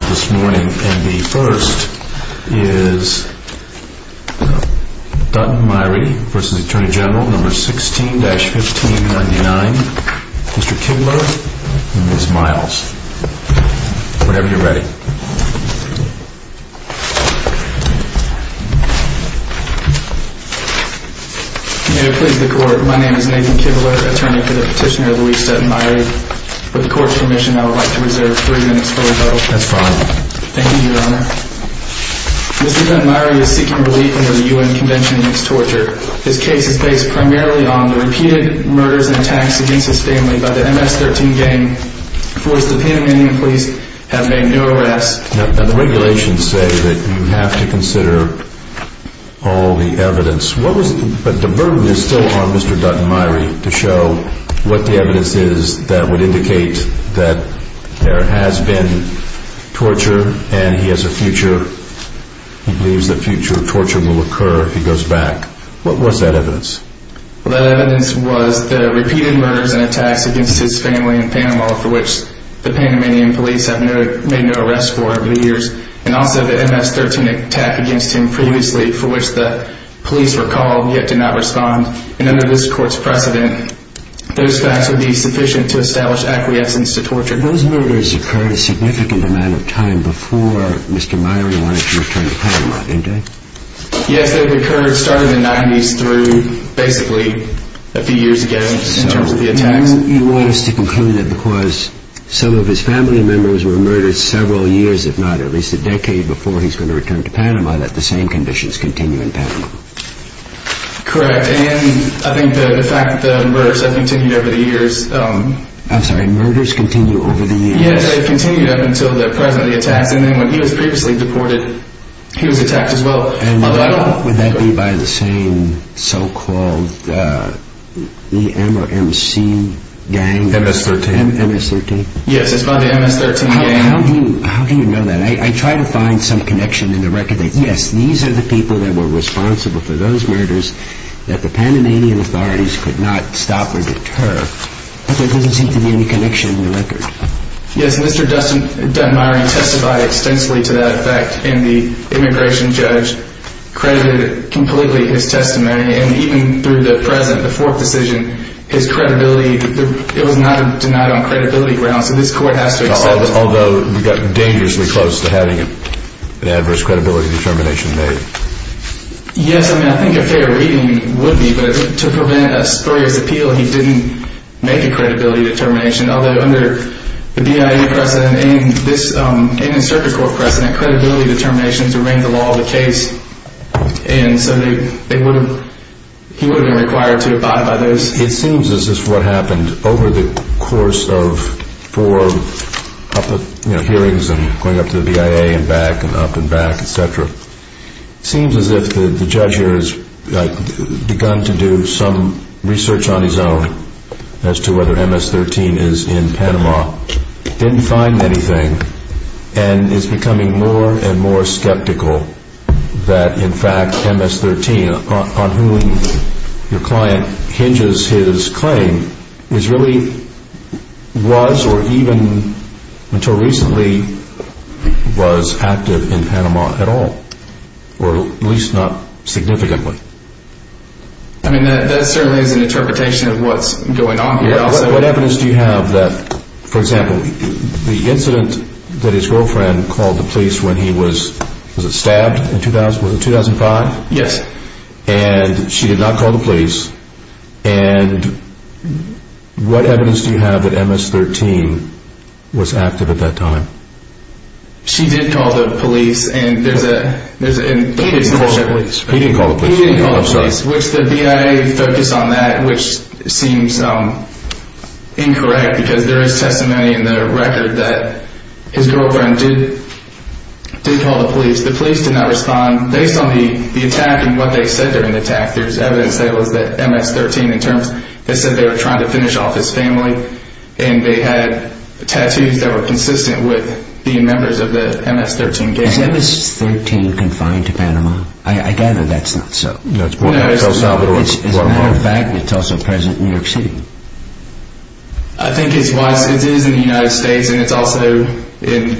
This morning and the first is Dutton Myrie v. Atty. Gen. No. 16-1599, Mr. Kibler and Ms. Miles. Whenever you're ready. May it please the court, my name is Nathan Kibler, attorney for the petitioner Louis Dutton Myrie. With the court's permission, I would like to reserve three minutes for rebuttal. That's fine. Thank you, Your Honor. Mr. Dutton Myrie is seeking relief under the U.N. Convention against Torture. His case is based primarily on the repeated murders and attacks against his family by the MS-13 gang, for which the Panamanian police have made no arrests. The regulations say that you have to consider all the evidence. But the burden is still on Mr. Dutton Myrie to show what the evidence is that would indicate that there has been torture and he has a future. He believes that future torture will occur if he goes back. What was that evidence? That evidence was the repeated murders and attacks against his family in Panama, for which the Panamanian police have made no arrests for over the years. And also the MS-13 attack against him previously, for which the police were called yet did not respond. And under this court's precedent, those facts would be sufficient to establish acquiescence to torture. Those murders occurred a significant amount of time before Mr. Myrie wanted to return to Panama, didn't they? Yes, they started in the 90s through basically a few years ago in terms of the attacks. So you want us to conclude that because some of his family members were murdered several years, if not at least a decade, before he's going to return to Panama, that the same conditions continue in Panama? Correct. And I think the fact that the murders have continued over the years... I'm sorry, murders continue over the years? Yes, they've continued up until the present of the attacks, and then when he was previously deported, he was attacked as well. And would that be by the same so-called EM or MC gang? MS-13. MS-13? Yes, it's by the MS-13 gang. How do you know that? I try to find some connection in the record that, yes, these are the people that were responsible for those murders that the Panamanian authorities could not stop or deter, but there doesn't seem to be any connection in the record. Yes, Mr. Dunmirey testified extensively to that fact, and the immigration judge credited completely his testimony, and even through the present, the fourth decision, his credibility, it was not denied on credibility grounds, so this court has to accept... Although we got dangerously close to having an adverse credibility determination made. Yes, I mean, I think a fair reading would be, but to prevent a spurious appeal, he didn't make a credibility determination, although under the BIA precedent and this circuit court precedent, credibility determinations are in the law of the case, and so he would have been required to abide by those. It seems as if what happened over the course of four hearings and going up to the BIA and back and up and back, et cetera, it seems as if the judge here has begun to do some research on his own as to whether MS-13 is in Panama, didn't find anything, and is becoming more and more skeptical that, in fact, MS-13, on whom your client hinges his claim, is in Panama. I mean, that certainly is an interpretation of what's going on here also. What evidence do you have that, for example, the incident that his girlfriend called the police when he was, was it stabbed in 2005? Yes. And she did not call the police. And what evidence do you have that MS-13 was active at that time? She did call the police, and there's a... He didn't call the police. He didn't call the police. He didn't call the police, which the BIA focused on that, which seems incorrect because there is testimony in the record that his girlfriend did call the police. The police did not respond. Based on the attack and what they said during the attack, there's evidence that it was that MS-13 in terms... They said they were trying to finish off his family, and they had tattoos that were consistent with being members of the MS-13 gang. Is MS-13 confined to Panama? I gather that's not so. No, it's not. As a matter of fact, it's also present in New York City. I think it is in the United States, and it's also in...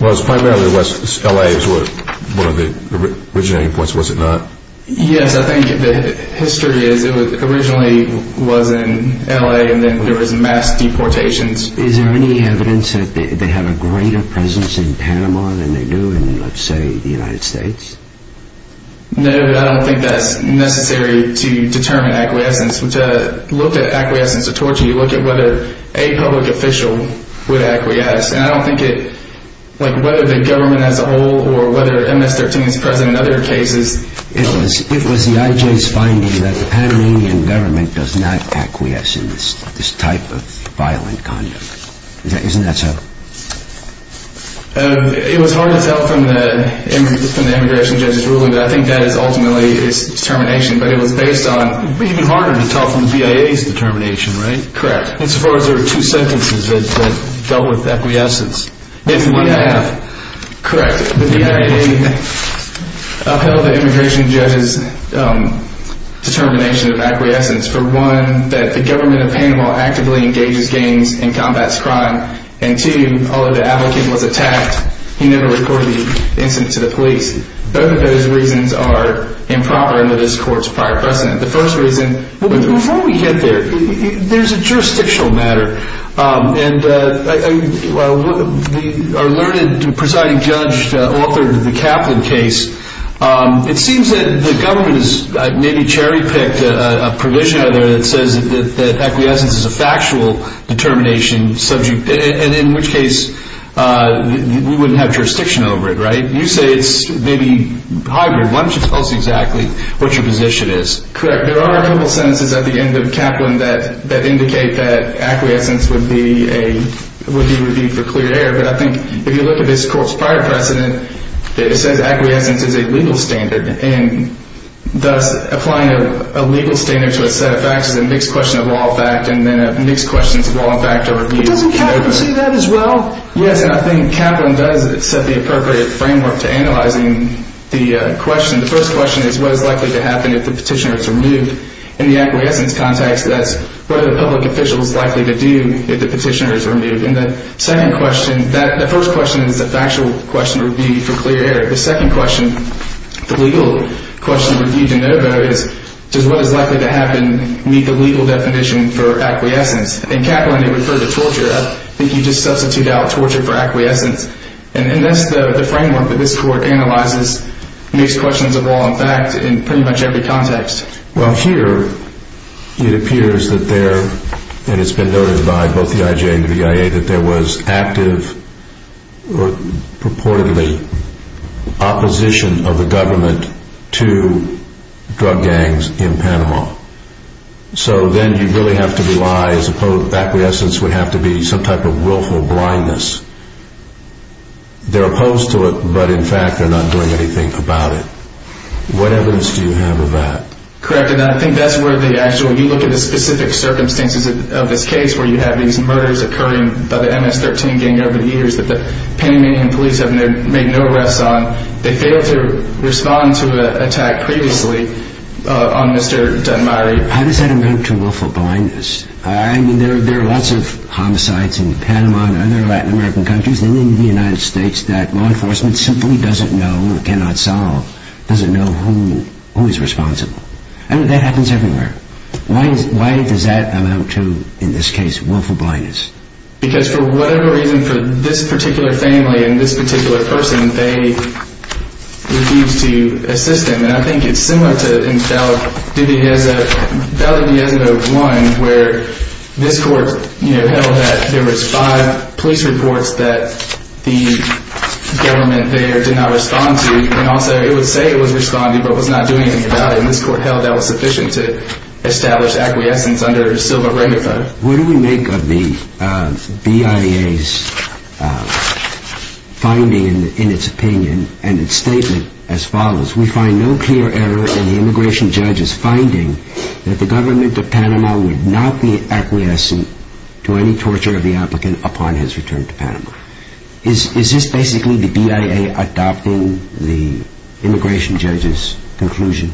Well, it's primarily in L.A. was one of the originating points, was it not? Yes, I think the history is it originally was in L.A., and then there was mass deportations. Is there any evidence that they have a greater presence in Panama than they do in, let's say, the United States? No, I don't think that's necessary to determine acquiescence. To look at acquiescence to torture, you look at whether a public official would acquiesce. And I don't think it, like whether the government as a whole or whether MS-13 is present in other cases... It was the IJ's finding that the Panamanian government does not acquiesce in this type of violent conduct. Isn't that so? It was hard to tell from the immigration judge's ruling, but I think that is ultimately its determination. But it was based on... It would be even harder to tell from the BIA's determination, right? Correct. As far as there are two sentences that dealt with acquiescence. Correct. The BIA upheld the immigration judge's determination of acquiescence for, one, that the government of Panama actively engages gangs and combats crime, and, two, although the applicant was attacked, he never recorded the incident to the police. Both of those reasons are improper under this Court's prior precedent. Before we get there, there's a jurisdictional matter. Our learned presiding judge authored the Kaplan case. It seems that the government has maybe cherry-picked a provision that says that acquiescence is a factual determination subject, and in which case we wouldn't have jurisdiction over it, right? You say it's maybe hybrid. Why don't you tell us exactly what your position is? Correct. There are a couple sentences at the end of Kaplan that indicate that acquiescence would be reviewed for clear error, but I think if you look at this Court's prior precedent, it says acquiescence is a legal standard, and thus applying a legal standard to a set of facts is a mixed question of law and fact, and then a mixed question of law and fact to review... Doesn't Kaplan say that as well? Yes, and I think Kaplan does set the appropriate framework to analyzing the question. The first question is what is likely to happen if the petitioner is removed. In the acquiescence context, that's what are the public officials likely to do if the petitioner is removed. And the second question, the first question is a factual question to review for clear error. The second question, the legal question to review de novo, is does what is likely to happen meet the legal definition for acquiescence? In Kaplan, he referred to torture. I think he just substituted out torture for acquiescence, and that's the framework that this Court analyzes mixed questions of law and fact in pretty much every context. Well, here it appears that there, and it's been noted by both the IJA and the BIA, that there was active, purportedly, opposition of the government to drug gangs in Panama. So then you really have to rely, as opposed to acquiescence, would have to be some type of willful blindness. They're opposed to it, but in fact they're not doing anything about it. What evidence do you have of that? Correct, and I think that's where the actual... You look at the specific circumstances of this case where you have these murders occurring by the MS-13 gang over the years that the Panamanian police have made no arrests on. They failed to respond to an attack previously on Mr. Danmari. How does that amount to willful blindness? I mean, there are lots of homicides in Panama and other Latin American countries, and in the United States, that law enforcement simply doesn't know, cannot solve, doesn't know who is responsible. I mean, that happens everywhere. Why does that amount to, in this case, willful blindness? Because for whatever reason, for this particular family and this particular person, they refused to assist them. And I think it's similar to in Valley Diasimo 1, where this court held that there was five police reports that the government there did not respond to, and also it would say it was responding, but was not doing anything about it. And this court held that was sufficient to establish acquiescence under Silva-Ramifa. What do we make of the BIA's finding in its opinion and its statement as follows? We find no clear error in the immigration judge's finding that the government of Panama would not be acquiescent to any torture of the applicant upon his return to Panama. Is this basically the BIA adopting the immigration judge's conclusion?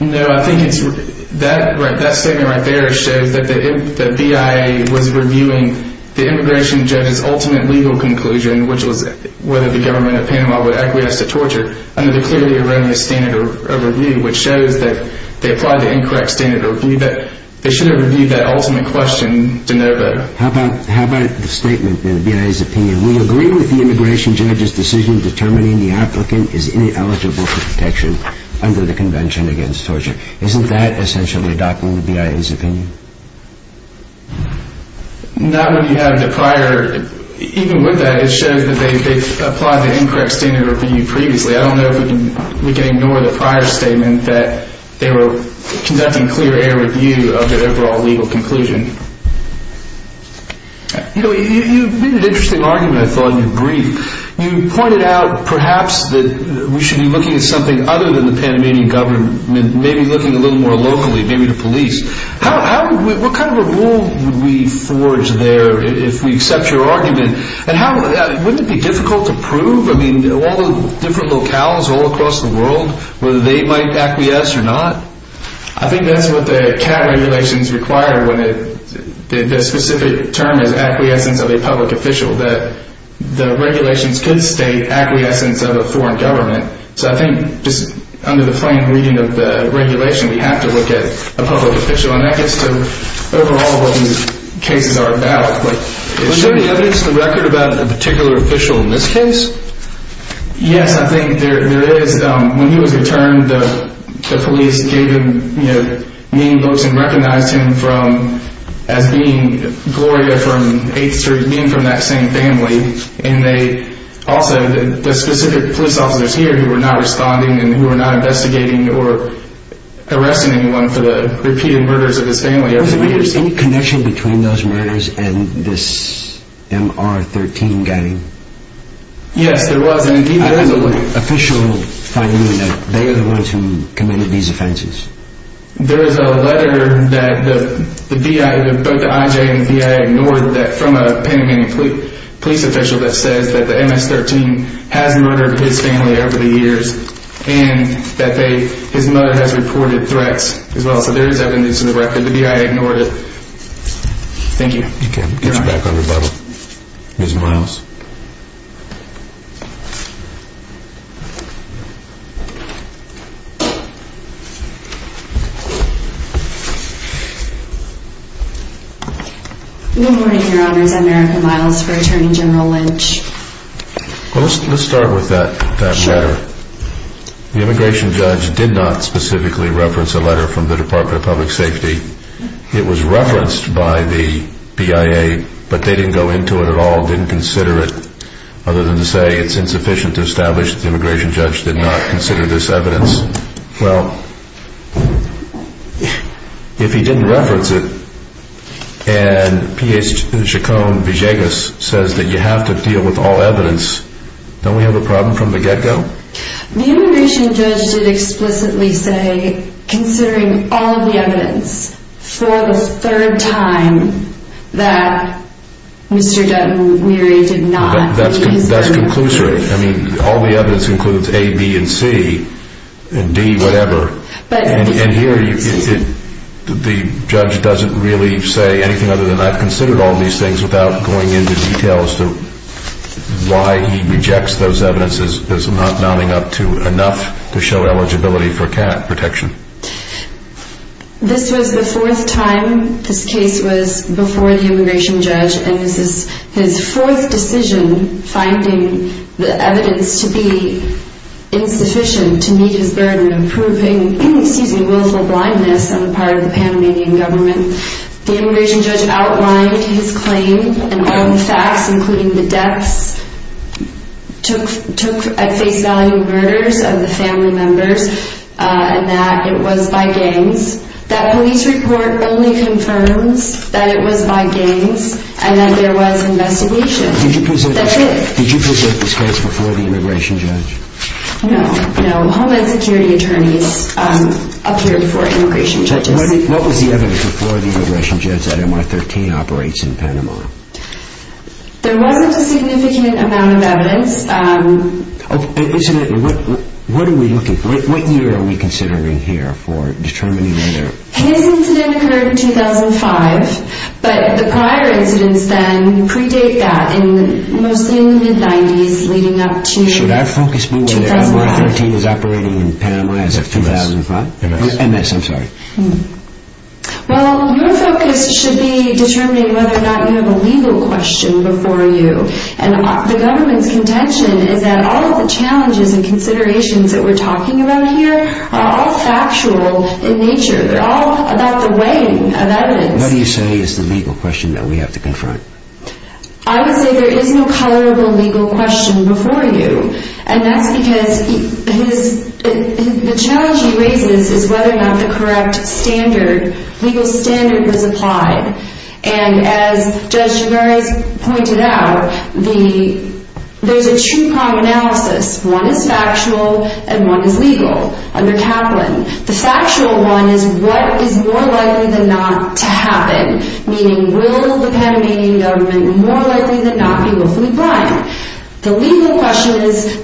No, I think that statement right there shows that the BIA was reviewing the immigration judge's ultimate legal conclusion, which was whether the government of Panama would acquiesce to torture, under the clearly erroneous standard of review, which shows that they applied the incorrect standard of review, that they should have reviewed that ultimate question to know better. How about the statement in the BIA's opinion? We agree with the immigration judge's decision determining the applicant is ineligible for protection under the Convention Against Torture. Isn't that essentially adopting the BIA's opinion? Not when you have the prior, even with that, it shows that they've applied the incorrect standard of review previously. I don't know if we can ignore the prior statement that they were conducting clear air review of the overall legal conclusion. You know, you made an interesting argument, I thought, in your brief. You pointed out, perhaps, that we should be looking at something other than the Panamanian government, maybe looking a little more locally, maybe the police. What kind of a rule would we forge there if we accept your argument? And wouldn't it be difficult to prove? I mean, all the different locales all across the world, whether they might acquiesce or not? I think that's what the CAT regulations require. The specific term is acquiescence of a public official. The regulations could state acquiescence of a foreign government. So I think, just under the plain reading of the regulation, we have to look at a public official. And that gets to, overall, what these cases are about. Is there any evidence to record about a particular official in this case? Yes, I think there is. When he was returned, the police gave him name books and recognized him as being Gloria from 8th Street, being from that same family. And they also, the specific police officers here who were not responding and who were not investigating or arresting anyone for the repeated murders of his family. Was there any connection between those murders and this MR-13 gang? Yes, there was. Is there an official finding that they are the ones who committed these offenses? There is a letter that both the I.J. and the B.I. ignored from a Panamanian police official that says that the MS-13 has murdered his family over the years and that his mother has reported threats as well. So there is evidence in the record. The B.I. ignored it. Thank you. Ms. Miles. Good morning, Your Honors. I'm Erica Miles for Attorney General Lynch. Let's start with that letter. The immigration judge did not specifically reference a letter from the Department of Public Safety. It was referenced by the B.I.A., but they didn't go into it at all, didn't consider it. Other than to say it's insufficient to establish that the immigration judge did not consider this evidence. Well, if he didn't reference it and P.H. Chacon-Villegas says that you have to deal with all evidence, don't we have a problem from the get-go? The immigration judge did explicitly say, considering all the evidence, for the third time, that Mr. Dunn and Meary did not. That's conclusory. I mean, all the evidence includes A, B, and C, and D, whatever. And here, the judge doesn't really say anything other than, he did not consider all these things without going into detail as to why he rejects those evidences as not mounting up to enough to show eligibility for cat protection. This was the fourth time this case was before the immigration judge, and this is his fourth decision finding the evidence to be insufficient to meet his burden of proving willful blindness on the part of the Panamanian government. The immigration judge outlined his claim and all the facts, including the deaths, took at face value murders of the family members, and that it was by gangs. That police report only confirms that it was by gangs and that there was investigation. Did you present this case before the immigration judge? No, no. Homeland Security attorneys appeared before immigration judges. What was the evidence before the immigration judge that MR-13 operates in Panama? There wasn't a significant amount of evidence. Incidentally, what year are we considering here for determining whether... His incident occurred in 2005, but the prior incidents then predate that, mostly in the mid-90s leading up to 2005. Should I focus more on whether MR-13 is operating in Panama as of 2005? MS, I'm sorry. Well, your focus should be determining whether or not you have a legal question before you, and the government's contention is that all of the challenges and considerations that we're talking about here are all factual in nature. They're all about the weighing of evidence. What do you say is the legal question that we have to confront? I would say there is no colorable legal question before you, and that's because the challenge he raises is whether or not the correct standard, legal standard, was applied. And as Judge Gervais pointed out, there's a two-prong analysis. One is factual and one is legal under Kaplan. The factual one is what is more likely than not to happen, meaning will the Panamanian government more likely than not be willfully blind? The legal question is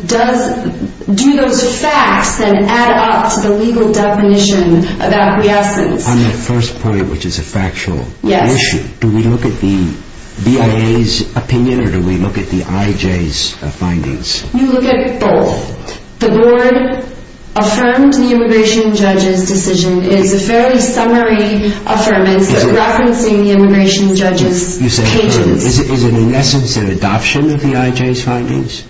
do those facts then add up to the legal definition about the essence? On that first point, which is a factual issue, do we look at the BIA's opinion or do we look at the IJ's findings? You look at both. The board affirmed the immigration judge's decision. It is a fairly summary affirmance referencing the immigration judge's pages. Is it in essence an adoption of the IJ's findings?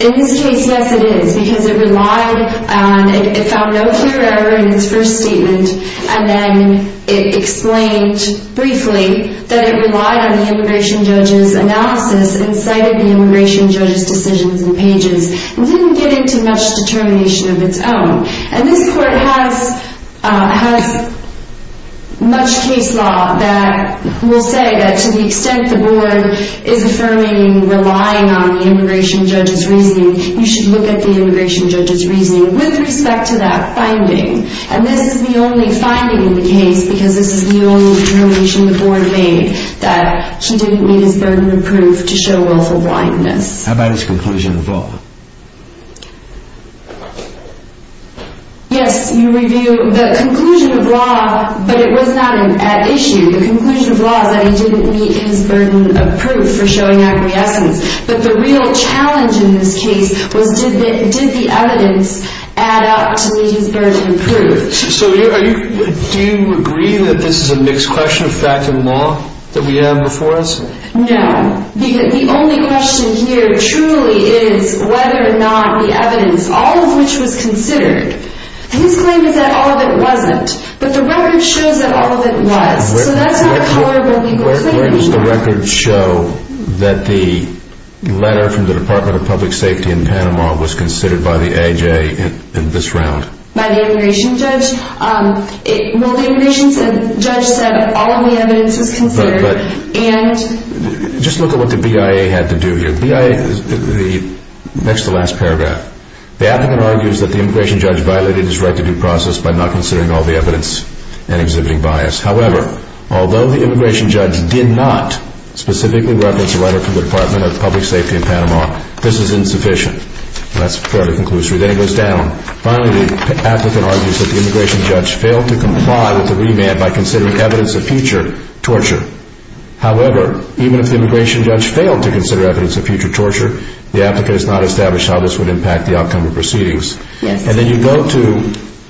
In this case, yes, it is, because it relied on, it found no clear error in its first statement, and then it explained briefly that it relied on the immigration judge's analysis and cited the immigration judge's decisions and pages. It didn't get into much determination of its own. This court has much case law that will say that to the extent the board is affirming and relying on the immigration judge's reasoning, you should look at the immigration judge's reasoning with respect to that finding. This is the only finding in the case because this is the only determination the board made that he didn't need his burden of proof to show willful blindness. How about his conclusion of law? Yes, you review the conclusion of law, but it was not at issue. The conclusion of law is that he didn't need his burden of proof for showing acquiescence, but the real challenge in this case was did the evidence add up to meet his burden of proof? Do you agree that this is a mixed question of fact and law that we have before us? No. The only question here truly is whether or not the evidence, all of which was considered. His claim is that all of it wasn't, but the record shows that all of it was. So that's not a horrible claim. Where does the record show that the letter from the Department of Public Safety in Panama was considered by the AJ in this round? By the immigration judge? Well, the immigration judge said all of the evidence was considered, but just look at what the BIA had to do here. Next to the last paragraph. The applicant argues that the immigration judge violated his right to due process by not considering all the evidence and exhibiting bias. However, although the immigration judge did not specifically reference the letter from the Department of Public Safety in Panama, this is insufficient. That's fairly conclusive. Then it goes down. Finally, the applicant argues that the immigration judge failed to comply with the remand by considering evidence of future torture. However, even if the immigration judge failed to consider evidence of future torture, the applicant has not established how this would impact the outcome of proceedings. Then you go to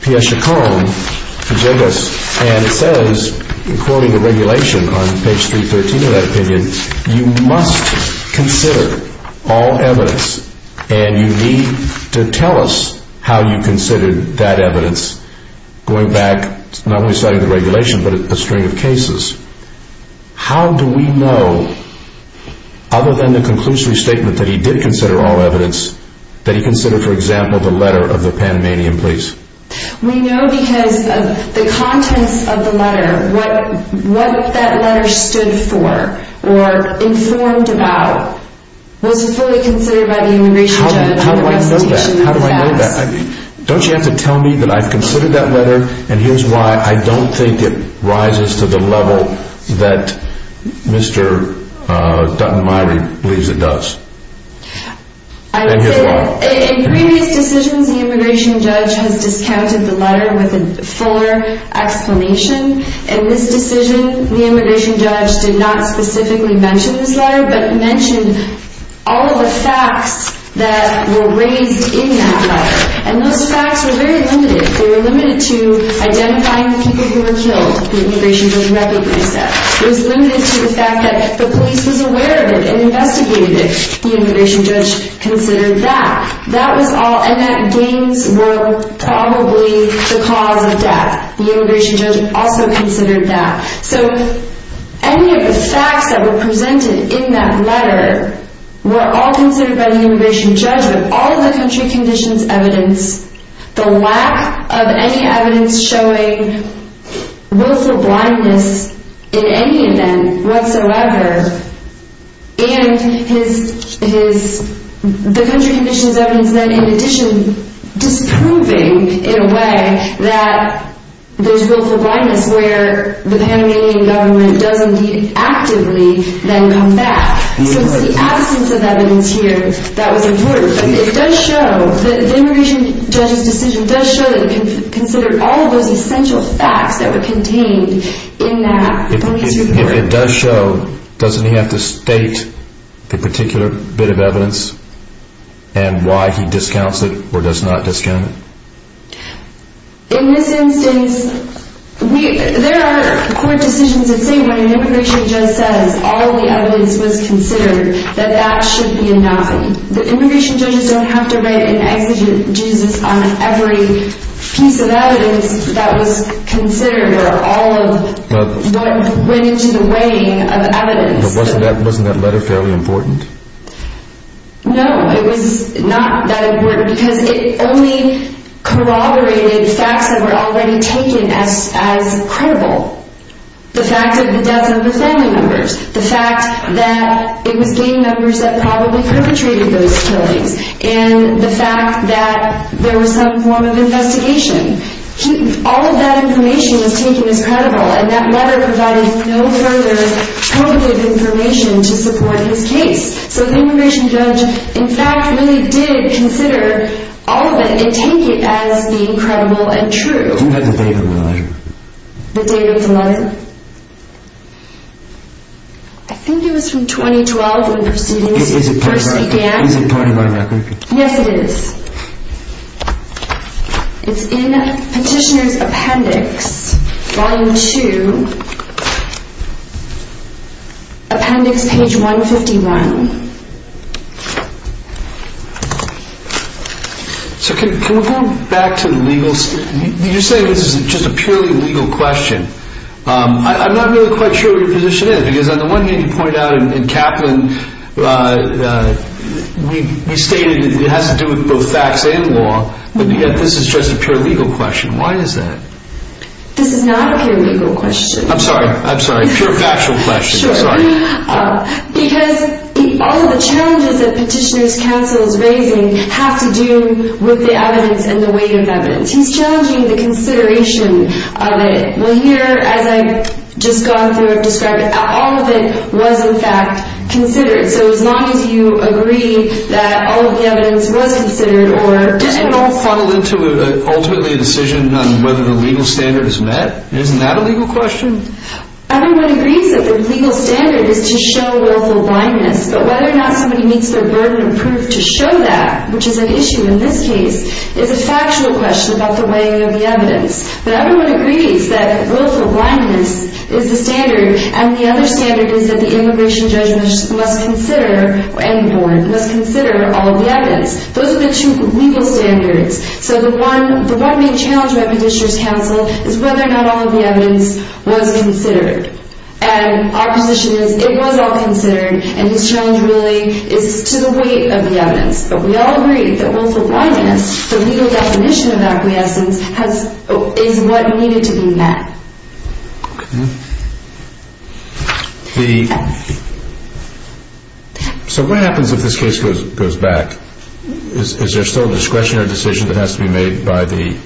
P.S. Chacon, and it says, according to regulation on page 313 of that opinion, you must consider all evidence, and you need to tell us how you considered that evidence. Going back, not only citing the regulation, but a string of cases. How do we know, other than the conclusory statement that he did consider all evidence, that he considered, for example, the letter of the Panamanian police? We know because of the contents of the letter. What that letter stood for, or informed about, was fully considered by the immigration judge. How do I know that? How do I know that? Don't you have to tell me that I've considered that letter, and here's why I don't think it rises to the level that Mr. Dutton-Meyrie believes it does. In previous decisions, the immigration judge has discounted the letter with a fuller explanation. In this decision, the immigration judge did not specifically mention this letter, but mentioned all of the facts that were raised in that letter. And those facts were very limited. They were limited to identifying the people who were killed. The immigration judge recognized that. It was limited to the fact that the police was aware of it and investigated it. The immigration judge considered that. That was all, and that gangs were probably the cause of death. The immigration judge also considered that. So any of the facts that were presented in that letter were all considered by the immigration judge, but all of the country conditions evidence, the lack of any evidence showing willful blindness in any event whatsoever, and the country conditions evidence then in addition disproving in a way that there's willful blindness where the Panamanian government does indeed actively then come back. So it's the absence of evidence here that was important. It does show that the immigration judge's decision does show that it considered all of those essential facts that were contained in that letter. If it does show, doesn't he have to state the particular bit of evidence and why he discounts it or does not discount it? In this instance, there are court decisions that say when an immigration judge says all the evidence was considered, that that should be a no. The immigration judges don't have to write an exegesis on every piece of evidence that was considered or all of what went into the weighing of evidence. But wasn't that letter fairly important? No, it was not that important because it only corroborated facts that were already taken as credible. The fact of the deaths of the family members, the fact that it was gang members that probably perpetrated those killings, and the fact that there was some form of investigation. All of that information was taken as credible, and that letter provided no further probative information to support his case. So the immigration judge, in fact, really did consider all of it and take it as being credible and true. Isn't that the date of the letter? The date of the letter? I think it was from 2012 when proceedings first began. Is it pointed by record? Yes, it is. It's in Petitioner's Appendix, Volume 2, Appendix Page 151. So can we go back to the legal... You're saying this is just a purely legal question. I'm not really quite sure what your position is, because on the one hand you pointed out in Kaplan you stated it has to do with both facts and law, but yet this is just a pure legal question. Why is that? This is not a pure legal question. I'm sorry, I'm sorry. A pure factual question, I'm sorry. Because all of the challenges that Petitioner's counsel is raising have to do with the evidence and the weight of evidence. He's challenging the consideration of it. Well, here, as I've just gone through and described it, all of it was in fact considered. So as long as you agree that all of the evidence was considered or... Doesn't it all funnel into ultimately a decision on whether the legal standard is met? Isn't that a legal question? Everyone agrees that the legal standard is to show willful blindness, but whether or not somebody meets their burden of proof to show that, which is an issue in this case, is a factual question about the weighting of the evidence. But everyone agrees that willful blindness is the standard and the other standard is that the immigration judge must consider, and warn, must consider all of the evidence. Those are the two legal standards. So the one main challenge we have with Petitioner's counsel is whether or not all of the evidence was considered. And our position is it was all considered and his challenge really is to the weight of the evidence. But we all agree that willful blindness, the legal definition of acquiescence, is what needed to be met. Okay. The... So what happens if this case goes back? Is there still a discretionary decision that has to be made by the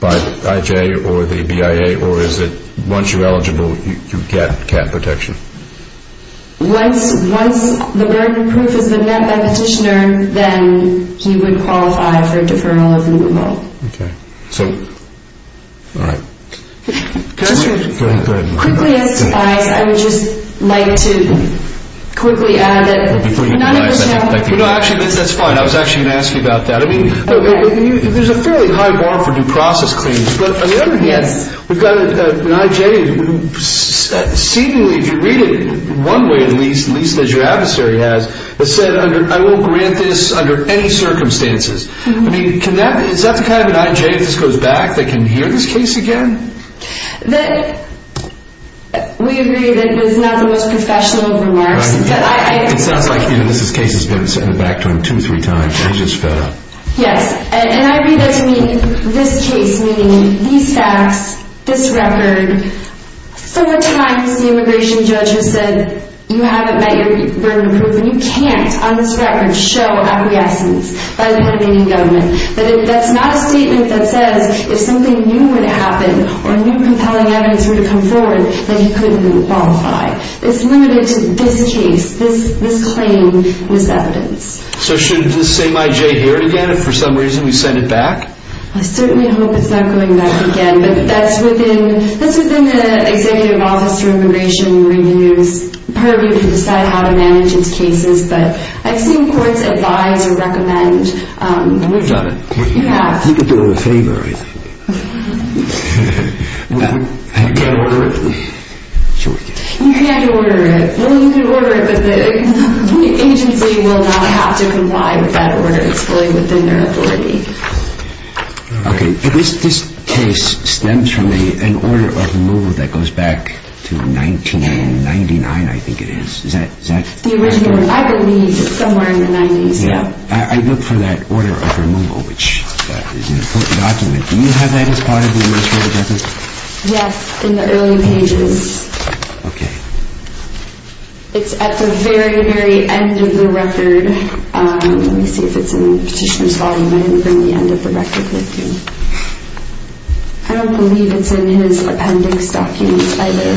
IJ or the BIA, or is it once you're eligible you get cat protection? Once the burden of proof has been met by Petitioner, then he would qualify for deferral of the removal. Okay. So... All right. Go ahead. Quickly as advised, I would just like to quickly add that none of us have... No, actually, that's fine. I was actually going to ask you about that. I mean, there's a fairly high bar for due process claims, but on the other hand, we've got an IJ who seemingly, if you read it one way at least, at least as your adversary has, has said, I won't grant this under any circumstances. I mean, can that... Is that kind of an IJ if this goes back that can hear this case again? That... We agree that it is not the most professional of remarks. Right. It sounds like even this case has been sent back to him two or three times and just fed up. Yes. And I read this meeting, this case meeting, these facts, this record, you haven't met your burden of proof, when you can't, on this record, show acquiescence by the Panamanian government. That's not a statement that says if something new would happen or new compelling evidence were to come forward, then you couldn't qualify. It's limited to this case, this claim, this evidence. So should this same IJ hear it again if for some reason we send it back? I certainly hope it's not going back again, but that's within the Executive Office for Immigration Review's purview to decide how to manage its cases. But I've seen courts advise and recommend... We've done it. You have. You can do it a favor, I think. Can I order it? Sure we can. You can order it. Well, you can order it, but the agency will not have to comply with that order. It's fully within their authority. Okay. This case stems from an order of removal that goes back to 1999, I think it is. Is that... The original, I believe, is somewhere in the 90s, yeah. I look for that order of removal, which is in a court document. Do you have that as part of the U.S. Court of Records? Yes, in the early pages. Okay. It's at the very, very end of the record. Let me see if it's in the petitioner's volume. I didn't bring the end of the record with me. I don't believe it's in his appendix documents either.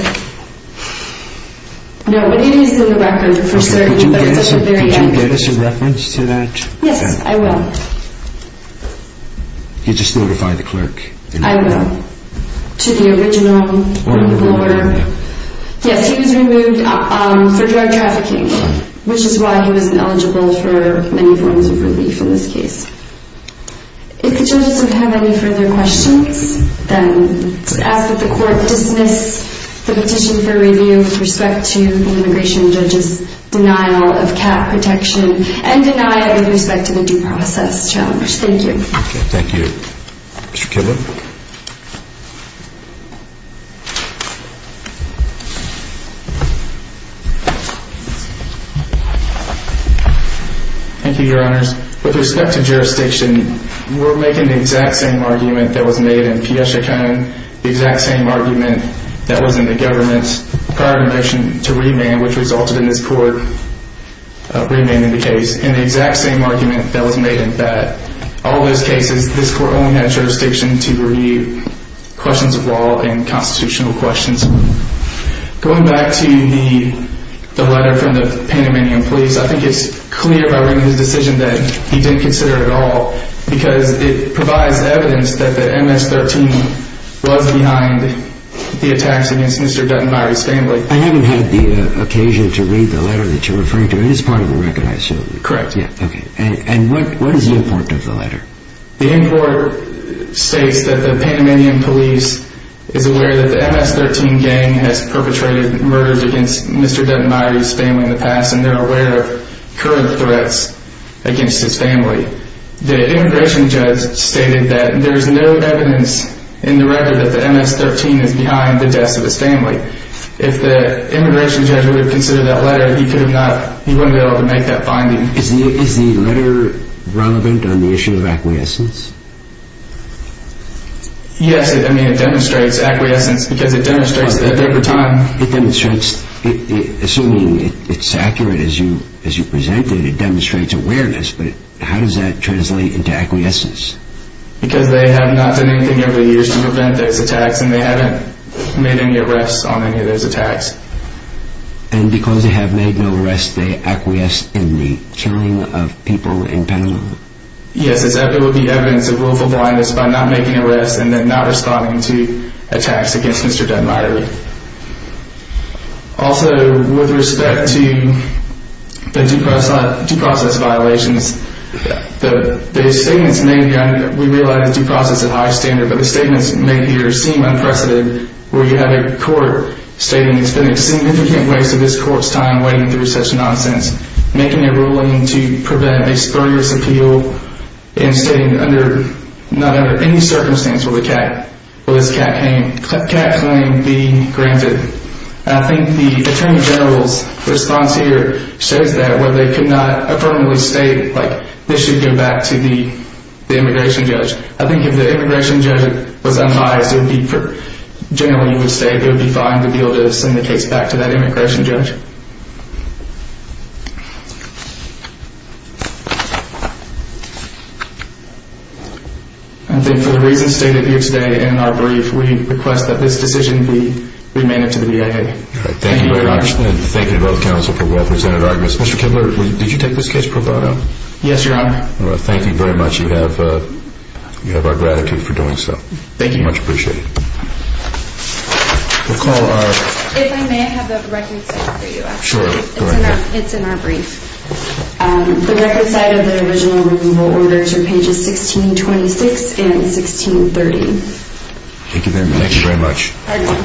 No, but it is in the record for certain, but it's at the very end. Could you get us a reference to that? Yes, I will. You just notify the clerk. I will. To the original order. Yes, he was removed for drug trafficking, which is why he wasn't eligible for many forms of relief in this case. If the judges don't have any further questions, then I ask that the court dismiss the petition for review with respect to the immigration judge's denial of CAT protection and deny it with respect to the due process challenge. Thank you. Thank you. Mr. Kibler? Thank you, Your Honors. With respect to jurisdiction, we're making the exact same argument that was made in P.S. Chacon, the exact same argument that was in the government's prior motion to remand, which resulted in this court remanding the case, and the exact same argument that was made in that. All those cases, this court only had jurisdiction to review questions of law and constitutional questions. Going back to the letter from the Panamanian police, I think it's clear by reading his decision that he didn't consider it at all because it provides evidence that the MS-13 was behind the attacks against Mr. Dutton and Myrie Stanley. I haven't had the occasion to read the letter that you're referring to. It is part of the record, I assume. Correct. And what is the import of the letter? The import states that the Panamanian police is aware that the MS-13 gang has perpetrated murders against Mr. Dutton and Myrie Stanley in the past, and they're aware of current threats against his family. The immigration judge stated that there's no evidence in the record that the MS-13 is behind the deaths of his family. If the immigration judge would have considered that letter, he wouldn't have been able to make that finding. Is the letter relevant on the issue of acquiescence? Yes, I mean, it demonstrates acquiescence because it demonstrates that over time... It demonstrates... Assuming it's accurate as you presented, it demonstrates awareness, but how does that translate into acquiescence? Because they have not done anything over the years to prevent those attacks, and they haven't made any arrests on any of those attacks. And because they have made no arrests, they acquiesce in the killing of people in Panama. Yes, it would be evidence of willful blindness by not making arrests and then not responding to attacks against Mr. Dutton and Myrie. Also, with respect to the due process violations, the statements may be under... We realize the due process is high standard, but the statements may be or seem unprecedented, where you have a court stating, it's been a significant waste of this court's time waiting through such nonsense, making a ruling to prevent a spurious appeal, and stating under... Not under any circumstance will this CAT claim be granted. I think the Attorney General's response here shows that where they could not affirmably state, like, this should go back to the immigration judge. I think if the immigration judge was unbiased, it would be... Generally, you would say it would be fine to be able to send the case back to that immigration judge. Thank you. I think for the reasons stated here today in our brief, we request that this decision be remanded to the DIA. Thank you very much. Thank you to both counsel for well-presented arguments. Mr. Kibler, did you take this case pro bono? Yes, Your Honor. Well, thank you very much. You have our gratitude for doing so. Thank you. Much appreciated. We'll call our... If I may, I have the record set for you. Sure, go ahead. It's in our brief. The record set of the original removal orders are pages 1626 and 1630. Thank you very much. Thank you very much.